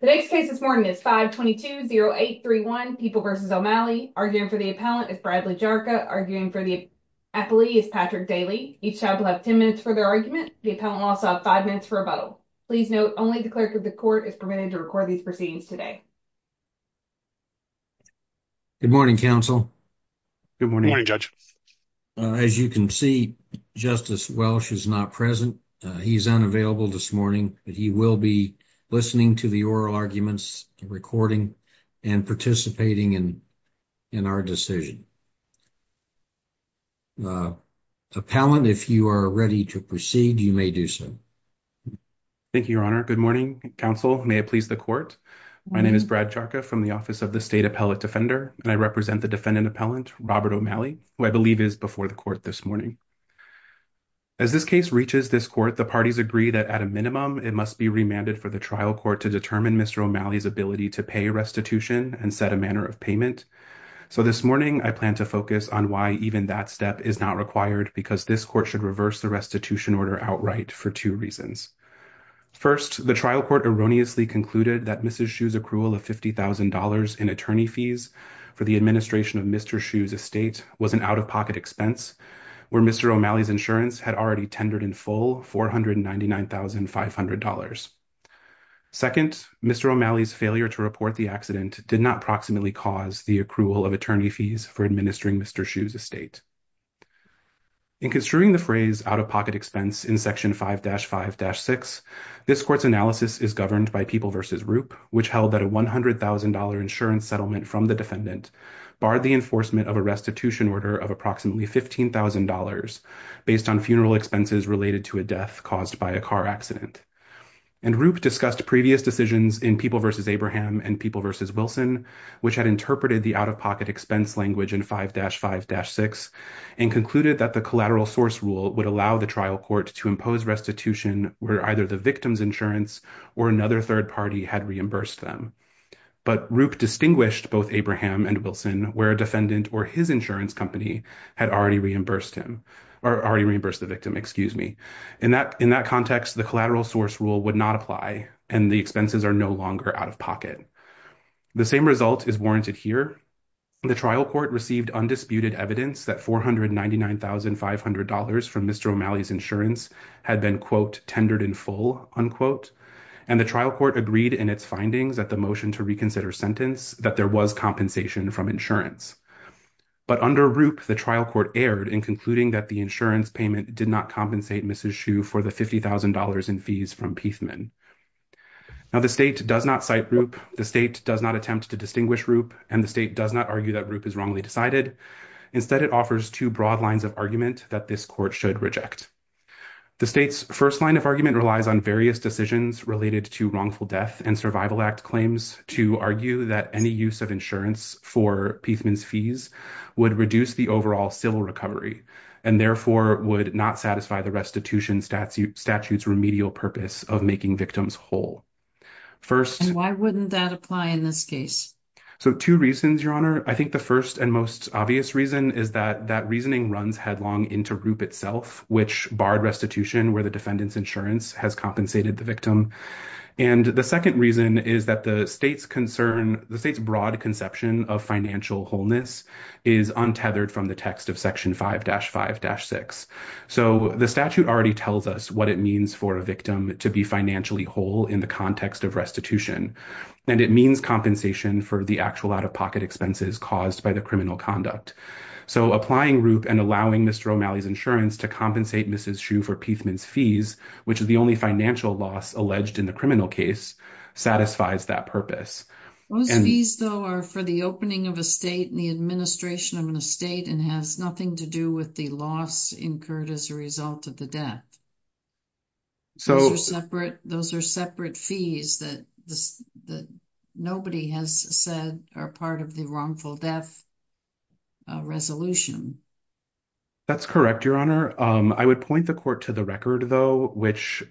today's case this morning is 5 22 0831 people versus O'Malley arguing for the appellant is Bradley Jarka arguing for the appellee is Patrick Daly. Each child will have 10 minutes for their argument. The appellant will also have five minutes for rebuttal. Please note only the clerk of the court is permitted to record these proceedings today. Good morning, counsel. Good morning, Judge. As you can see, Justice Welch is not present. He's unavailable this morning, but he will be listening to the oral arguments recording and participating in in our decision. Uh, appellant, if you are ready to proceed, you may do so. Thank you, Your Honor. Good morning, counsel. May it please the court. My name is Brad Jarka from the office of the state appellate defender, and I represent the defendant appellant, Robert O'Malley, who I believe is before the court this morning. As this case reaches this court, the parties agree that, at a minimum, it must be remanded for the trial court to determine Mr. O'Malley's ability to pay restitution and set a manner of payment. So this morning, I plan to focus on why even that step is not required, because this court should reverse the restitution order outright for two reasons. First, the trial court erroneously concluded that Mrs. Shue's accrual of $50,000 in attorney fees for the administration of Mr. Shue's estate was an out-of-pocket expense where Mr. O'Malley's insurance had already tendered in full $499,500. Second, Mr. O'Malley's failure to report the accident did not proximately cause the accrual of attorney fees for administering Mr. Shue's estate. In construing the phrase out-of-pocket expense in Section 5-5-6, this court's analysis is governed by People v. Roop, which held that a $100,000 insurance settlement from the defendant barred the enforcement of a restitution order of approximately $15,000 based on funeral expenses related to a death caused by a car accident. And Roop discussed previous decisions in People v. Abraham and People v. Wilson, which had interpreted the out-of-pocket expense language in 5-5-6 and concluded that the collateral source rule would allow the trial court to impose restitution where either the victim's insurance or another third party had reimbursed them. But Roop distinguished both Abraham and Wilson where a defendant or his insurance company had already reimbursed the victim. In that context, the collateral source rule would not apply and the expenses are no longer out-of-pocket. The same result is warranted here. The trial court received undisputed evidence that $499,500 from Mr. O'Malley's insurance had been, quote, tendered in full, unquote. And the trial court agreed in its findings at the motion to reconsider sentence that there was compensation from insurance. But under Roop, the trial court erred in concluding that the insurance payment did not compensate Mrs. Shue for the $50,000 in fees from Piefman. Now, the state does not cite Roop, the state does not attempt to distinguish Roop, and the state does not argue that Roop is wrongly decided. Instead, it offers two broad lines of argument that this court should reject. The state's first line of argument relies on various decisions related to wrongful death and Survival Act claims to argue that any use of insurance for Piefman's fees would reduce the overall civil recovery and therefore would not satisfy the restitution statute's remedial purpose of making victims whole. First, why wouldn't that apply in this case? So two reasons, Your Honor. I think the first and most obvious reason is that that reasoning runs headlong into Roop itself, which barred restitution where the defendant's insurance has compensated the victim. And the second reason is that the state's concern, the state's broad conception of financial wholeness is untethered from the text of Section 5-5-6. So the statute already tells us what it means for a victim to be financially whole in the context of restitution, and it means compensation for the actual out-of-pocket expenses caused by the criminal conduct. So applying Roop and allowing Mr. O'Malley's insurance to compensate Mrs. Hsu for Piefman's fees, which is the only financial loss alleged in the criminal case, satisfies that purpose. Those fees though are for the opening of a state and the administration of an estate and has nothing to do with the loss incurred as a result of the death. So those are separate fees that nobody has said are part of the wrongful death resolution. That's correct, Your Honor. I would point the court to the record though, which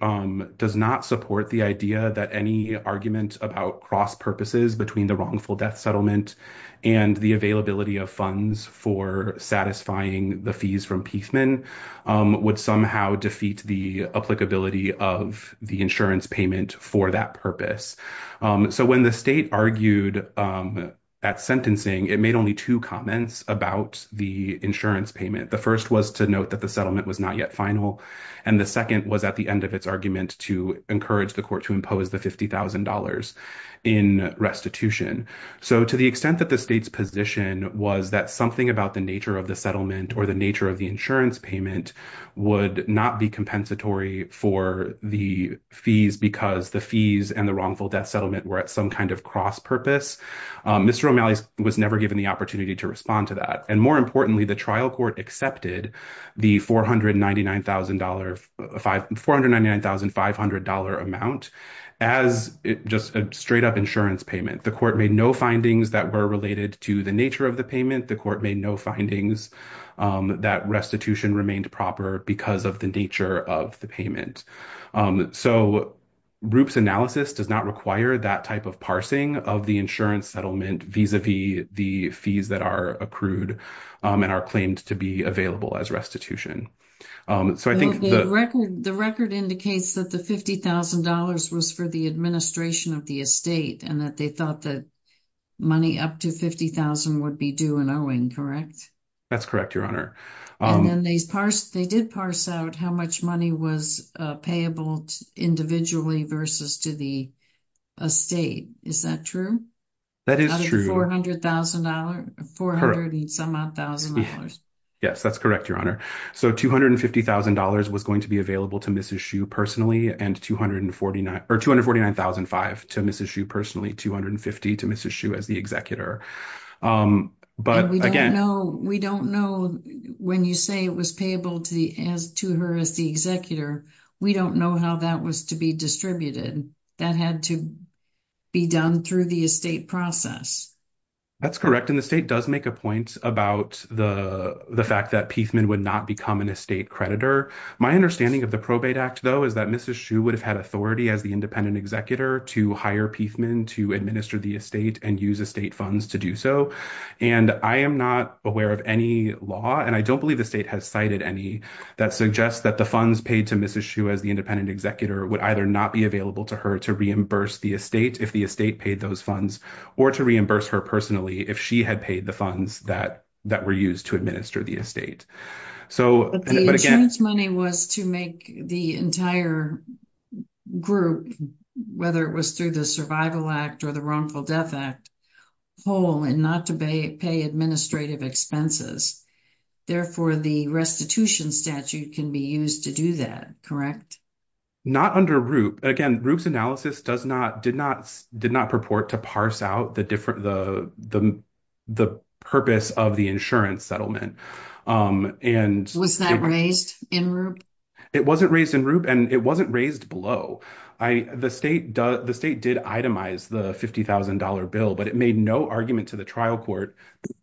does not support the idea that any argument about cross purposes between the wrongful death settlement and the availability of funds for satisfying the fees from Piefman would somehow defeat the applicability of the insurance payment for that purpose. So when the state argued at sentencing, it made only two comments about the insurance payment. The first was to note that the settlement was not yet final, and the second was at the end of its argument to encourage the court to impose the $50,000 in restitution. So to the extent that the state's position was that something about the nature of the settlement or the nature of the insurance payment would not be compensatory for the fees because the fees and the wrongful death settlement were at some kind of cross-purpose, Mr. O'Malley was never given the opportunity to respond to that. And more importantly, the trial court accepted the $499,500 amount as just a straight-up insurance payment. The court made no findings that were related to the nature of the payment. The court made no findings that restitution remained proper because of the nature of the payment. So Roop's analysis does not require that type of parsing of the insurance settlement vis-a-vis the fees that are accrued and are claimed to be available as restitution. The record indicates that the $50,000 was for the administration of the estate and that they thought that money up to $50,000 would be due in owing, correct? That's correct, Your Honor. And then they did parse out how much money was payable individually versus to the estate. Is that true? That is true. Out of the $400,000? $400,000. Yes, that's correct, Your Honor. So $250,000 was going to be available to Mrs. Hsu personally and $249,500 to Mrs. Hsu personally, $250,000 to Mrs. Hsu as the executor. We don't know when you say it was payable to her as the executor, we don't know how that was to be distributed. That had to be done through the estate process. That's correct, and the state does make a point about the fact that Piefman would not become an estate creditor. My understanding of the Probate Act, though, is that Mrs. Hsu would have had authority as the independent executor to hire Piefman to administer the estate and use estate funds to do so. And I am not aware of any law, and I don't believe the state has cited any, that suggests that the funds paid to Mrs. Hsu as the independent executor would either not be available to her to reimburse the estate if the estate paid those funds or to reimburse her personally if she had paid the funds that were used to administer the estate. But the insurance money was to make the entire group, whether it was through the Survival Act or the Harmful Death Act, whole and not to pay administrative expenses. Therefore, the restitution statute can be used to do that, correct? Not under ROOP. Again, ROOP's analysis did not purport to parse out the purpose of the insurance settlement. Was that raised in ROOP? It wasn't raised in ROOP, and it wasn't raised below. The state did itemize the $50,000 bill, but it made no argument to the trial court,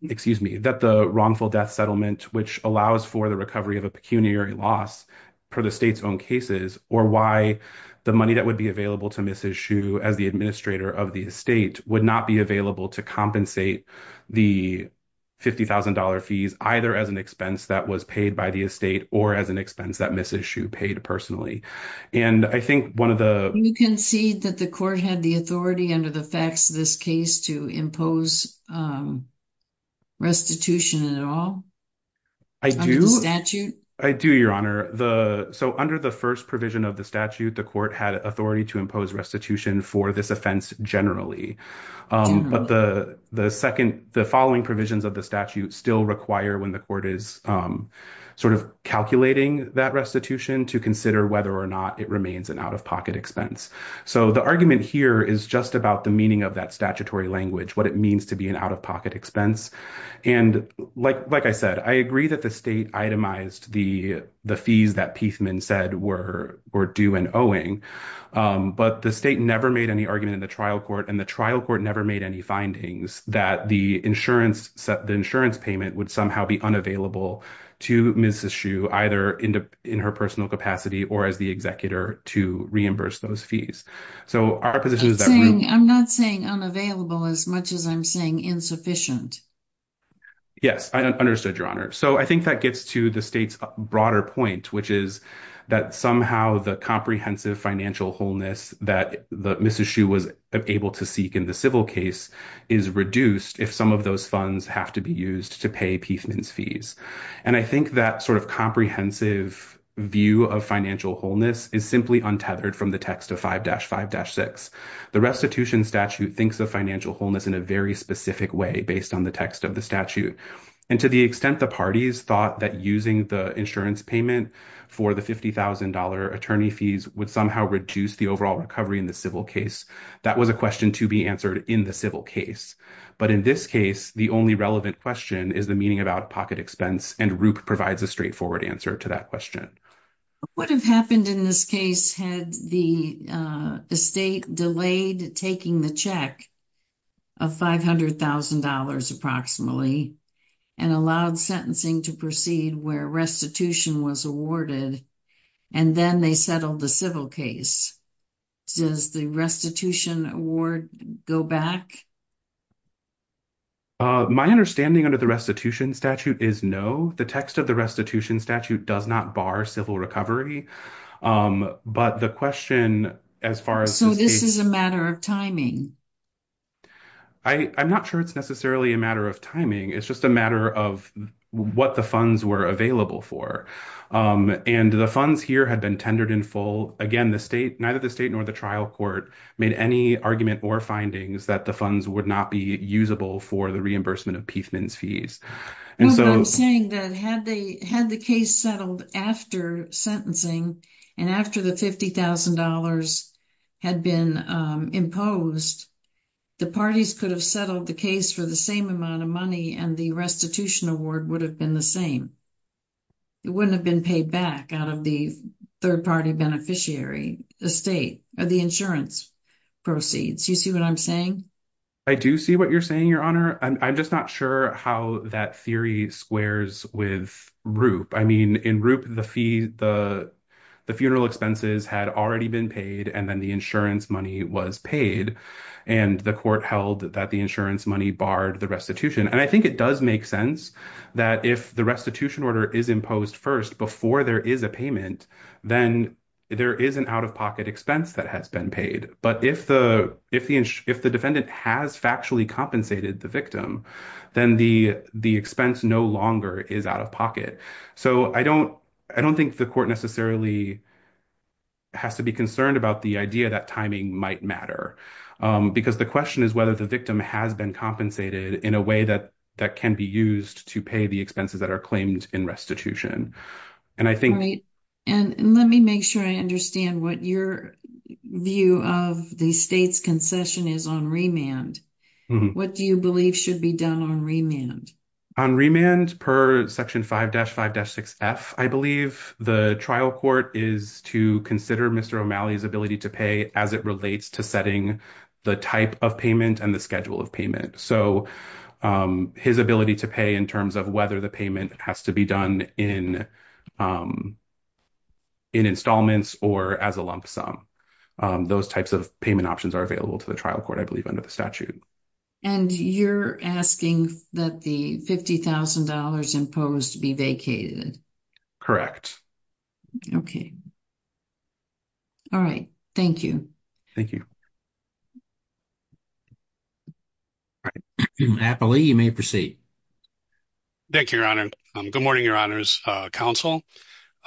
excuse me, that the wrongful death settlement, which allows for the recovery of a pecuniary loss per the state's own cases, or why the money that would be available to Mrs. Hsu as the administrator of the estate would not be available to compensate the $50,000 fees either as an expense that was paid by the estate or as an expense that Mrs. Hsu paid personally. And I think one of the... You concede that the court had the authority under the facts of this case to impose restitution at all? I do, Your Honor. So under the first provision of the statute, the court had authority to impose restitution for this offense generally. But the following provisions of the statute still require, when the court is sort of calculating that restitution, to consider whether or not it remains an out-of-pocket expense. So the argument here is just about the meaning of that statutory language, what it means to be an out-of-pocket expense. And like I said, I agree that the state itemized the fees that Piefman said were due and owing, but the state never made any argument in the trial court, and the trial court never made any findings that the insurance payment would somehow be unavailable to Mrs. Hsu, either in her personal capacity or as the executor, to reimburse those fees. So our position is that... I'm not saying unavailable as much as I'm saying insufficient. Yes, I understood, Your Honor. So I think that gets to the state's broader point, which is that somehow the comprehensive financial wholeness that Mrs. Hsu was able to seek in the civil case is reduced if some of those funds have to be used to pay Piefman's fees. And I think that sort of comprehensive view of financial wholeness is simply untethered from the text of 5-5-6. The restitution statute thinks of financial wholeness in a very specific way, based on the text of the statute. And to the extent the parties thought that using the insurance payment for the $50,000 attorney fees would somehow reduce the overall recovery in the civil case, that was a question to be answered in the But in this case, the only relevant question is the meaning of out-of-pocket expense, and Rupp provides a straightforward answer to that question. What would have happened in this case had the estate delayed taking the check of $500,000 approximately and allowed sentencing to proceed where restitution was awarded, and then they settled the civil case? Does the restitution award go back? My understanding under the restitution statute is no. The text of the restitution statute does not bar civil recovery. But the question, as far as... So this is a matter of timing? I'm not sure it's necessarily a matter of timing. It's just a matter of what the funds were available for. And the funds here had been tendered in full. Again, neither the state nor the trial court made any argument or findings that the funds would not be usable for the reimbursement of Piefman's fees. Well, but I'm saying that had the case settled after sentencing and after the $50,000 had been imposed, the parties could have settled the case for the same amount of money and the restitution award would have been the same. It wouldn't have been paid back out of the third-party beneficiary, the state, or the insurance proceeds. You see what I'm saying? I do see what you're saying, Your Honor. I'm just not sure how that theory squares with ROOP. I mean, in ROOP, the funeral expenses had already been paid and then the insurance money was paid. And the court held that the insurance money barred the restitution. And I think it does make sense that if the restitution order is imposed first before there is a payment, then there is an out-of-pocket expense that has been paid. But if the defendant has factually compensated the victim, then the expense no longer is out of pocket. So I don't think the court necessarily has to be concerned about the idea that timing might matter. Because the question is whether the victim has been compensated in a way that can be used to pay the expenses that are claimed in restitution. And I think— All right. And let me make sure I understand what your view of the state's concession is on remand. What do you believe should be done on remand? On remand, per Section 5-5-6F, I believe, the trial court is to consider Mr. O'Malley's ability to pay as it relates to setting the type of payment and the schedule of payment. So his ability to pay in terms of whether the payment has to be done in installments or as a lump sum. Those types of payment options are available to the trial court, I believe, under the statute. And you're asking that the $50,000 imposed be vacated? Correct. Okay. All right. Thank you. Thank you. All right. Appley, you may proceed. Thank you, Your Honor. Good morning, Your Honor's counsel.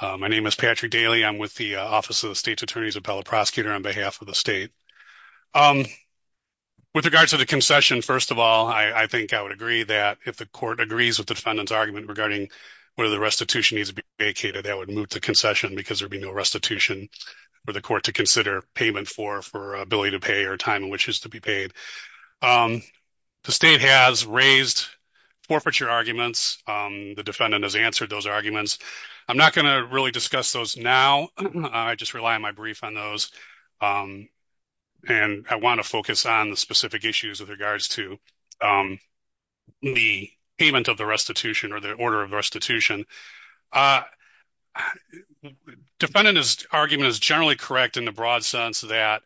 My name is Patrick Daly. I'm with the Office of the State's Attorney's Appellate Prosecutor on behalf of the state. With regards to the concession, first of all, I think I would agree that if the court agrees with the defendant's argument regarding whether the restitution needs to be vacated, that would move to concession because there would be no restitution for the court to consider payment for for ability to pay or time in which it is to be paid. The state has raised forfeiture arguments. The defendant has answered those arguments. I'm not going to really discuss those now. I just rely on my brief on those. And I want to focus on the specific issues with regards to the payment of the restitution or the order of restitution. Defendant's argument is generally correct in the broad sense that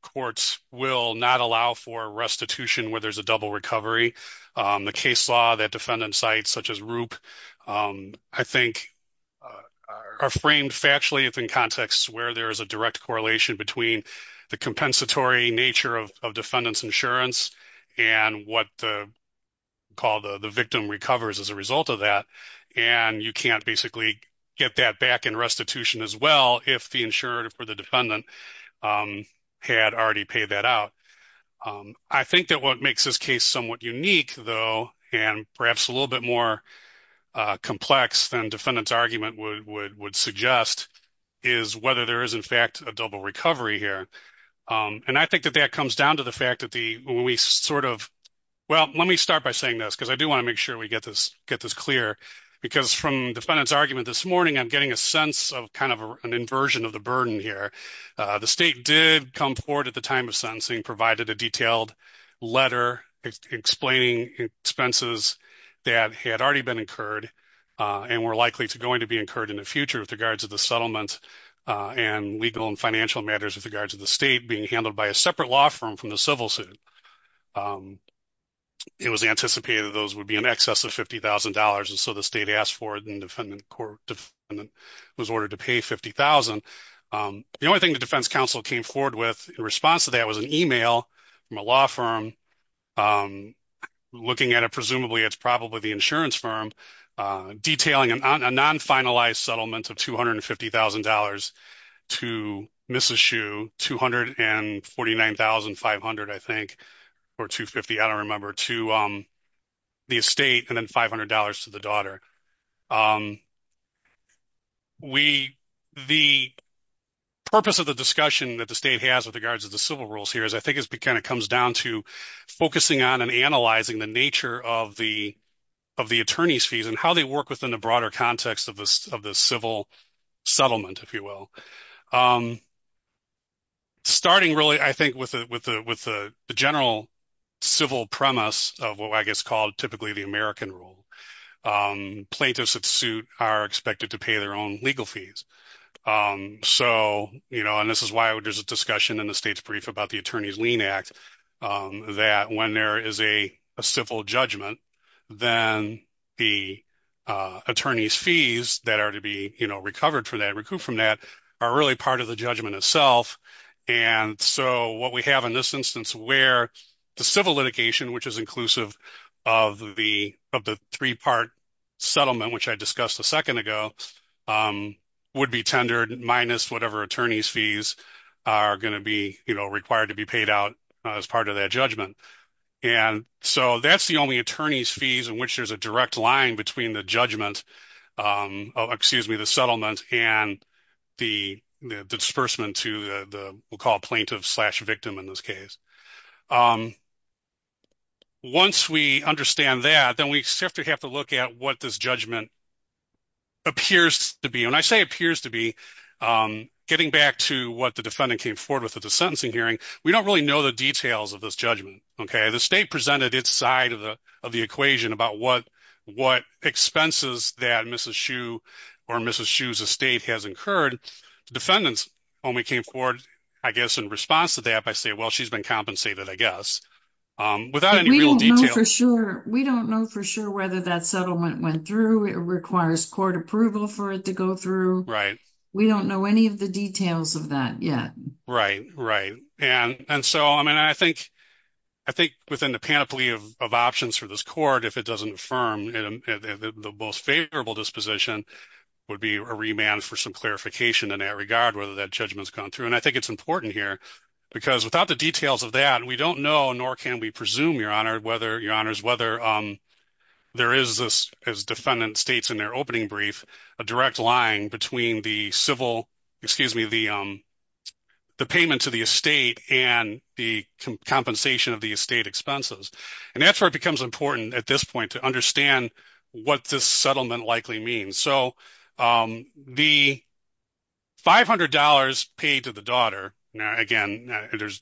courts will not allow for restitution where there's a double recovery. The case law that defendants cite, such as ROOP, I think are framed factually within contexts where there is a direct correlation between the compensatory nature of defendant's insurance and what the call the victim recovers as a result of that. And you can't basically get that back in restitution as well if the insurer or the defendant had already paid that out. I think that what makes this case somewhat unique, though, and perhaps a little bit more complex than defendant's argument would suggest is whether there is, in fact, a double recovery here. And I think that that comes down to the fact that the we sort of well, let me start by saying this, because I do want to make sure we get this get this clear, because from defendant's argument this morning, I'm getting a sense of kind of an inversion of the burden here. The state did come forward at the time of sentencing, provided a detailed letter explaining expenses that had already been incurred and were likely to going to be incurred in the future with regards to the settlement and legal and financial matters with regards to the state being handled by a separate law firm from the civil suit. It was anticipated those would be in excess of $50,000. And so the state asked for it and defendant was ordered to pay $50,000. The only thing the defense counsel came forward with in response to that was an email from a law firm looking at it, presumably it's probably the insurance firm, detailing a non-finalized settlement of $250,000 to Mississue, $249,500, I think, or $250,000, I don't remember, to the estate and then $500 to the daughter. The purpose of the discussion that the state has with regards to the civil rules here is, I think, it kind of comes down to focusing on and analyzing the nature of the attorney's fees and how they work within the broader context of the civil settlement, if you will. Starting really, I think, with the general civil premise of what I guess is called typically the American rule. Plaintiffs at suit are expected to pay their own legal fees. And this is why there's a discussion in the state's brief about the Attorney's Lien Act, that when there is a civil judgment, then the attorney's fees that are to be recovered from that are really part of the judgment itself. And so what we have in this instance where the civil litigation, which is inclusive of the three-part settlement, which I discussed a second ago, would be tendered minus whatever attorney's fees are going to be required to be paid out as part of that judgment. And so that's the only attorney's fees in which there's a direct line between the judgment, excuse me, the settlement and the disbursement to the, we'll call it the settlement. Once we understand that, then we have to look at what this judgment appears to be. When I say appears to be, getting back to what the defendant came forward with at the sentencing hearing, we don't really know the details of this judgment, okay? The state presented its side of the equation about what expenses that Mrs. Hsu or Mrs. Hsu's estate has incurred. The defendants only came forward, I guess, in response to that by saying, well, she's been compensated, I guess, without any real details. We don't know for sure whether that settlement went through. It requires court approval for it to go through. Right. We don't know any of the details of that yet. Right, right. And so, I mean, I think within the panoply of options for this court, if it doesn't affirm the most favorable disposition, would be a remand for some clarification in that regard, whether that judgment's gone through. And I think it's important here because without the details of that, we don't know, nor can we presume, Your Honor, whether there is this, as defendant states in their opening brief, a direct line between the civil, excuse me, the payment to the estate and the compensation of the estate expenses. And that's where it becomes important at this point to understand what this settlement likely means. So, the $500 paid to the daughter, again, there's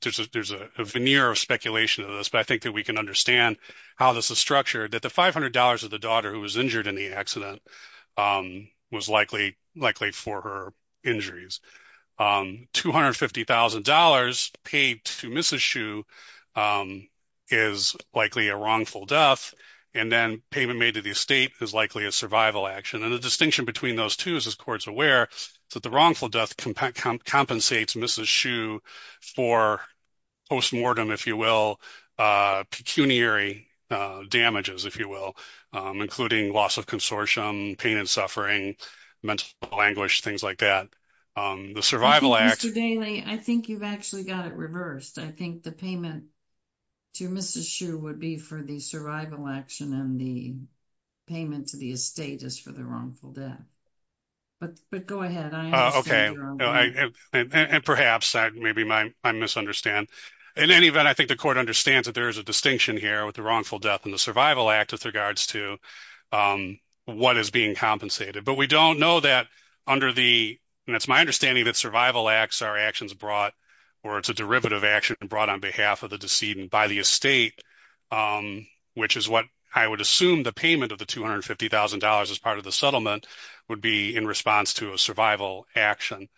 a veneer of speculation of this, but I think that we can understand how this is structured, that the $500 of the daughter who was injured in the accident was likely for her injuries. $250,000 paid to Mrs. Hsu is likely a wrongful death, and then payment made to the estate is likely a survival action. And the distinction between those two is, as court's aware, that the wrongful death compensates Mrs. Hsu for post-mortem, if you will, pecuniary damages, if you will, including loss of consortium, pain and suffering, mental anguish, things like that. The survival act- Mr. Daley, I think you've actually got it reversed. I think the payment to Mrs. Hsu would be for the survival action, and the payment to the estate is for the wrongful death. But go ahead, I understand. And perhaps, maybe I misunderstand. In any event, I think the court understands that there is a distinction here with the wrongful death and the survival act with regards to what is being compensated. But we don't know that under the, and it's my understanding that survival acts are actions brought, or it's a derivative action brought on behalf of the decedent by the estate, which is what I would assume the payment of the $250,000 as part of the settlement would be in response to a survival action.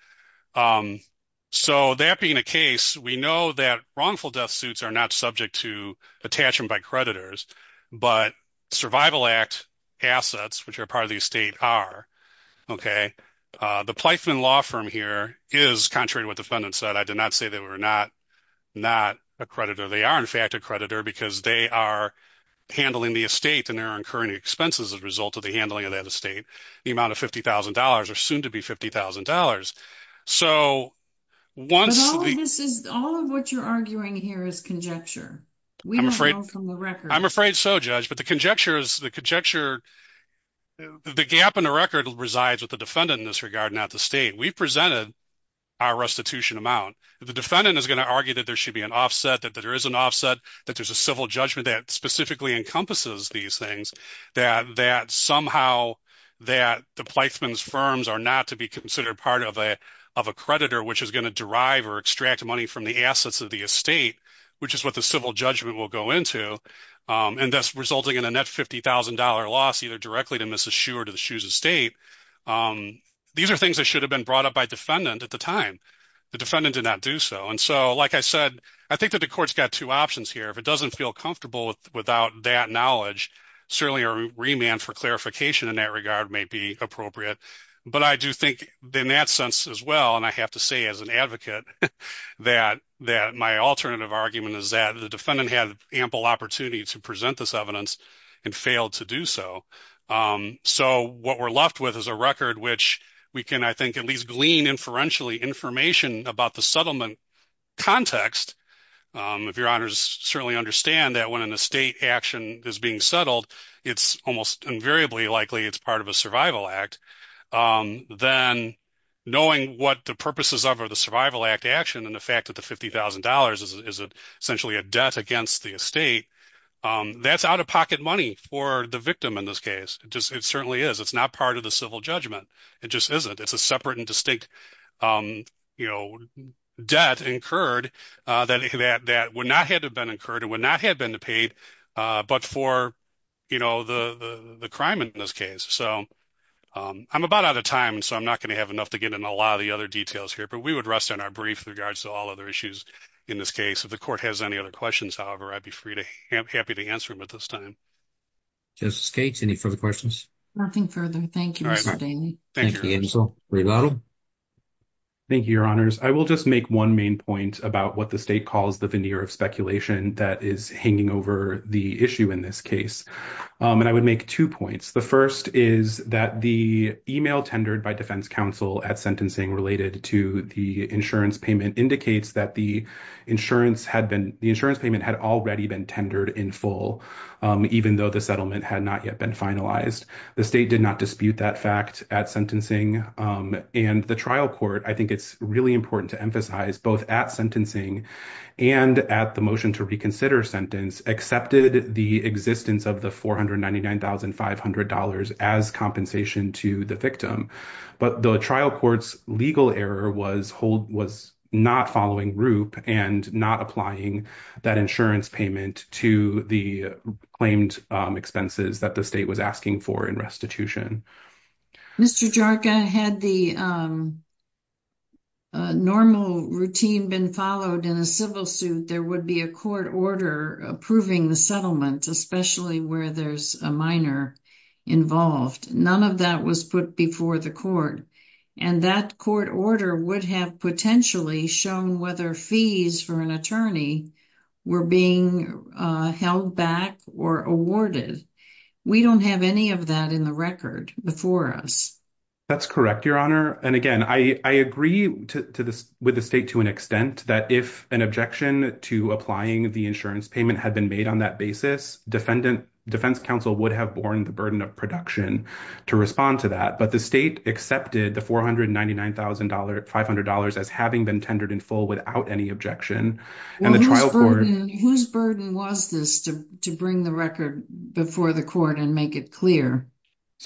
So that being the case, we know that wrongful death suits are not subject to attachment by creditors, but survival act assets, which are part of the estate, are. Okay. The Plythven Law Firm here is, contrary to what not a creditor, they are in fact a creditor because they are handling the estate and they're incurring expenses as a result of the handling of that estate. The amount of $50,000 are soon to be $50,000. So once- But all of this is, all of what you're arguing here is conjecture. We don't know from the record. I'm afraid so, Judge, but the conjecture is, the conjecture, the gap in the record resides with the defendant in this regard, not the state. We've presented our restitution amount. The defendant is going to argue that there should be an offset, that there is an offset, that there's a civil judgment that specifically encompasses these things, that somehow that the Plythven's firms are not to be considered part of a creditor, which is going to derive or extract money from the assets of the estate, which is what the civil judgment will go into, and thus resulting in a net $50,000 loss either directly to Mrs. Schuh or to defendant at the time. The defendant did not do so. And so, like I said, I think that the court's got two options here. If it doesn't feel comfortable without that knowledge, certainly a remand for clarification in that regard may be appropriate. But I do think in that sense as well, and I have to say as an advocate that my alternative argument is that the defendant had ample opportunity to present this evidence and failed to do so. So what we're left with is a record which we can, I think, at least glean inferentially information about the settlement context. If your honors certainly understand that when an estate action is being settled, it's almost invariably likely it's part of a survival act. Then knowing what the purposes of the survival act action and the fact that the $50,000 is essentially a debt against the estate, that's out-of-pocket money for the victim in this case. It certainly is. It's not part of civil judgment. It just isn't. It's a separate and distinct debt incurred that would not have been incurred, it would not have been paid, but for the crime in this case. So I'm about out of time, so I'm not going to have enough to get into a lot of the other details here, but we would rest on our brief in regards to all other issues in this case. If the court has any other questions, however, I'd be happy to answer them at this time. Justice Gates, any further questions? Nothing further. Thank you, Mr. Daly. Thank you, counsel. Revato? Thank you, your honors. I will just make one main point about what the state calls the veneer of speculation that is hanging over the issue in this case. I would make two points. The first is that the email tendered by defense counsel at sentencing related to the insurance payment indicates that the insurance payment had already been tendered in full, even though the settlement had not yet been finalized. The state did not dispute that fact at sentencing, and the trial court, I think it's really important to emphasize, both at sentencing and at the motion to reconsider sentence accepted the existence of the $499,500 as compensation to the victim, but the trial court's legal error was not following group and not applying that insurance payment to the claimed expenses that the state was asking for in restitution. Mr. Jarka, had the normal routine been followed in a civil suit, there would be a court order approving the settlement, especially where there's a minor involved. None of that was put before the court, and that court order would have potentially shown whether fees for an attorney were being held back or awarded. We don't have any of that in the record before us. That's correct, Your Honor, and again, I agree with the state to an extent that if an objection to applying the insurance payment had been made on that basis, defense counsel would have borne the burden of production to respond to that, but the state accepted the $499,500 as having been in full without any objection. Whose burden was this to bring the record before the court and make it clear?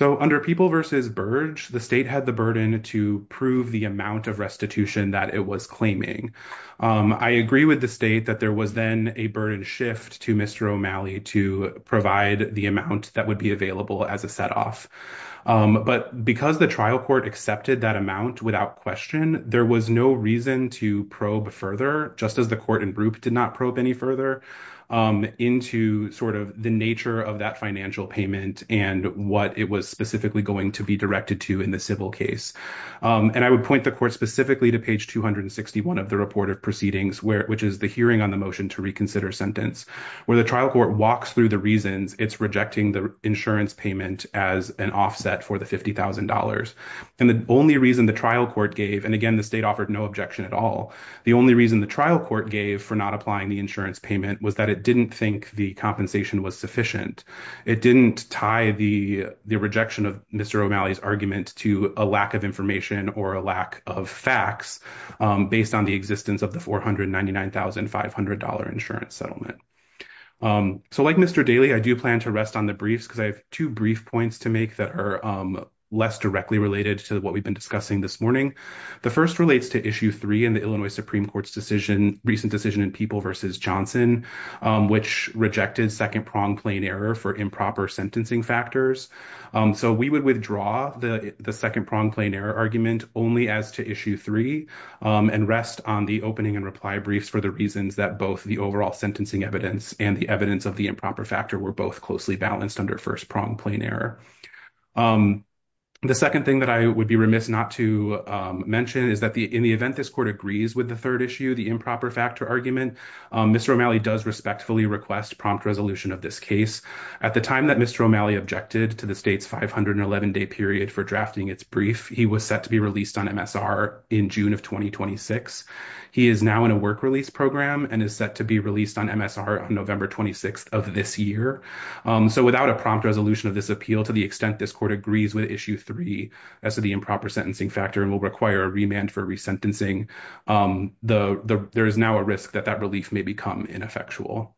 Under People v. Burge, the state had the burden to prove the amount of restitution that it was claiming. I agree with the state that there was then a burden shift to Mr. O'Malley to provide the amount that would be available as a set off, but because the trial court accepted that amount without question, there was no reason to probe further, just as the court and group did not probe any further, into the nature of that financial payment and what it was specifically going to be directed to in the civil case. I would point the court specifically to page 261 of the report of proceedings, which is the hearing on the motion to reconsider sentence, where the trial court walks through the reasons it's rejecting the insurance payment as an offset for the $50,000, and the only reason the trial court gave, and again, the state offered no objection at all, the only reason the trial court gave for not applying the insurance payment was that it didn't think the compensation was sufficient. It didn't tie the rejection of Mr. O'Malley's argument to a lack of information or a lack of facts based on the existence of the $499,500 insurance settlement. So, like Mr. Daley, I do plan to rest on the briefs because I have two brief points to make that are less directly related to what we've been discussing this morning. The first relates to Issue 3 in the Illinois Supreme Court's recent decision in People v. Johnson, which rejected second-pronged plain error for improper sentencing factors. So, we would withdraw the second-pronged plain error argument only as to Issue 3 and rest on the opening and reply briefs for the reasons that both the overall sentencing evidence and the evidence of the improper factor were both balanced under first-pronged plain error. The second thing that I would be remiss not to mention is that in the event this court agrees with the third issue, the improper factor argument, Mr. O'Malley does respectfully request prompt resolution of this case. At the time that Mr. O'Malley objected to the state's 511-day period for drafting its brief, he was set to be released on MSR in June of 2026. He is now in a work-release program and is set to on MSR on November 26th of this year. So, without a prompt resolution of this appeal to the extent this court agrees with Issue 3 as to the improper sentencing factor and will require a remand for resentencing, there is now a risk that that relief may become ineffectual.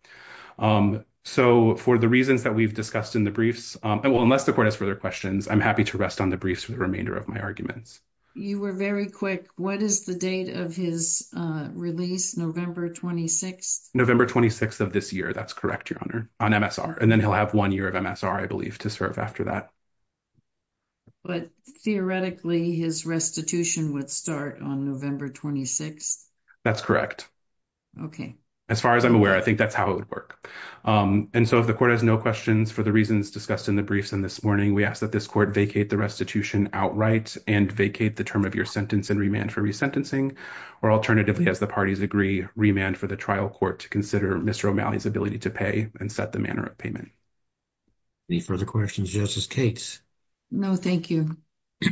So, for the reasons that we've discussed in the briefs, unless the court has further questions, I'm happy to rest on the briefs for the remainder of my arguments. You were very quick. What is the date of his release? November 26th? November 26th of this year, that's correct, Your Honor, on MSR. And then he'll have one year of MSR, I believe, to serve after that. But theoretically, his restitution would start on November 26th? That's correct. Okay. As far as I'm aware, I think that's how it would work. And so, if the court has no questions for the reasons discussed in the briefs and this morning, we ask that this court vacate the restitution outright and vacate the improper sentence and remand for resentencing, or alternatively, as the parties agree, remand for the trial court to consider Mr. O'Malley's ability to pay and set the manner of payment. Any further questions, Justice Cates? No, thank you.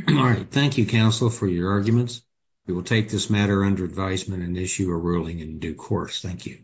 All right. Thank you, Counsel, for your arguments. We will take this matter under advisement and issue a ruling in due course. Thank you.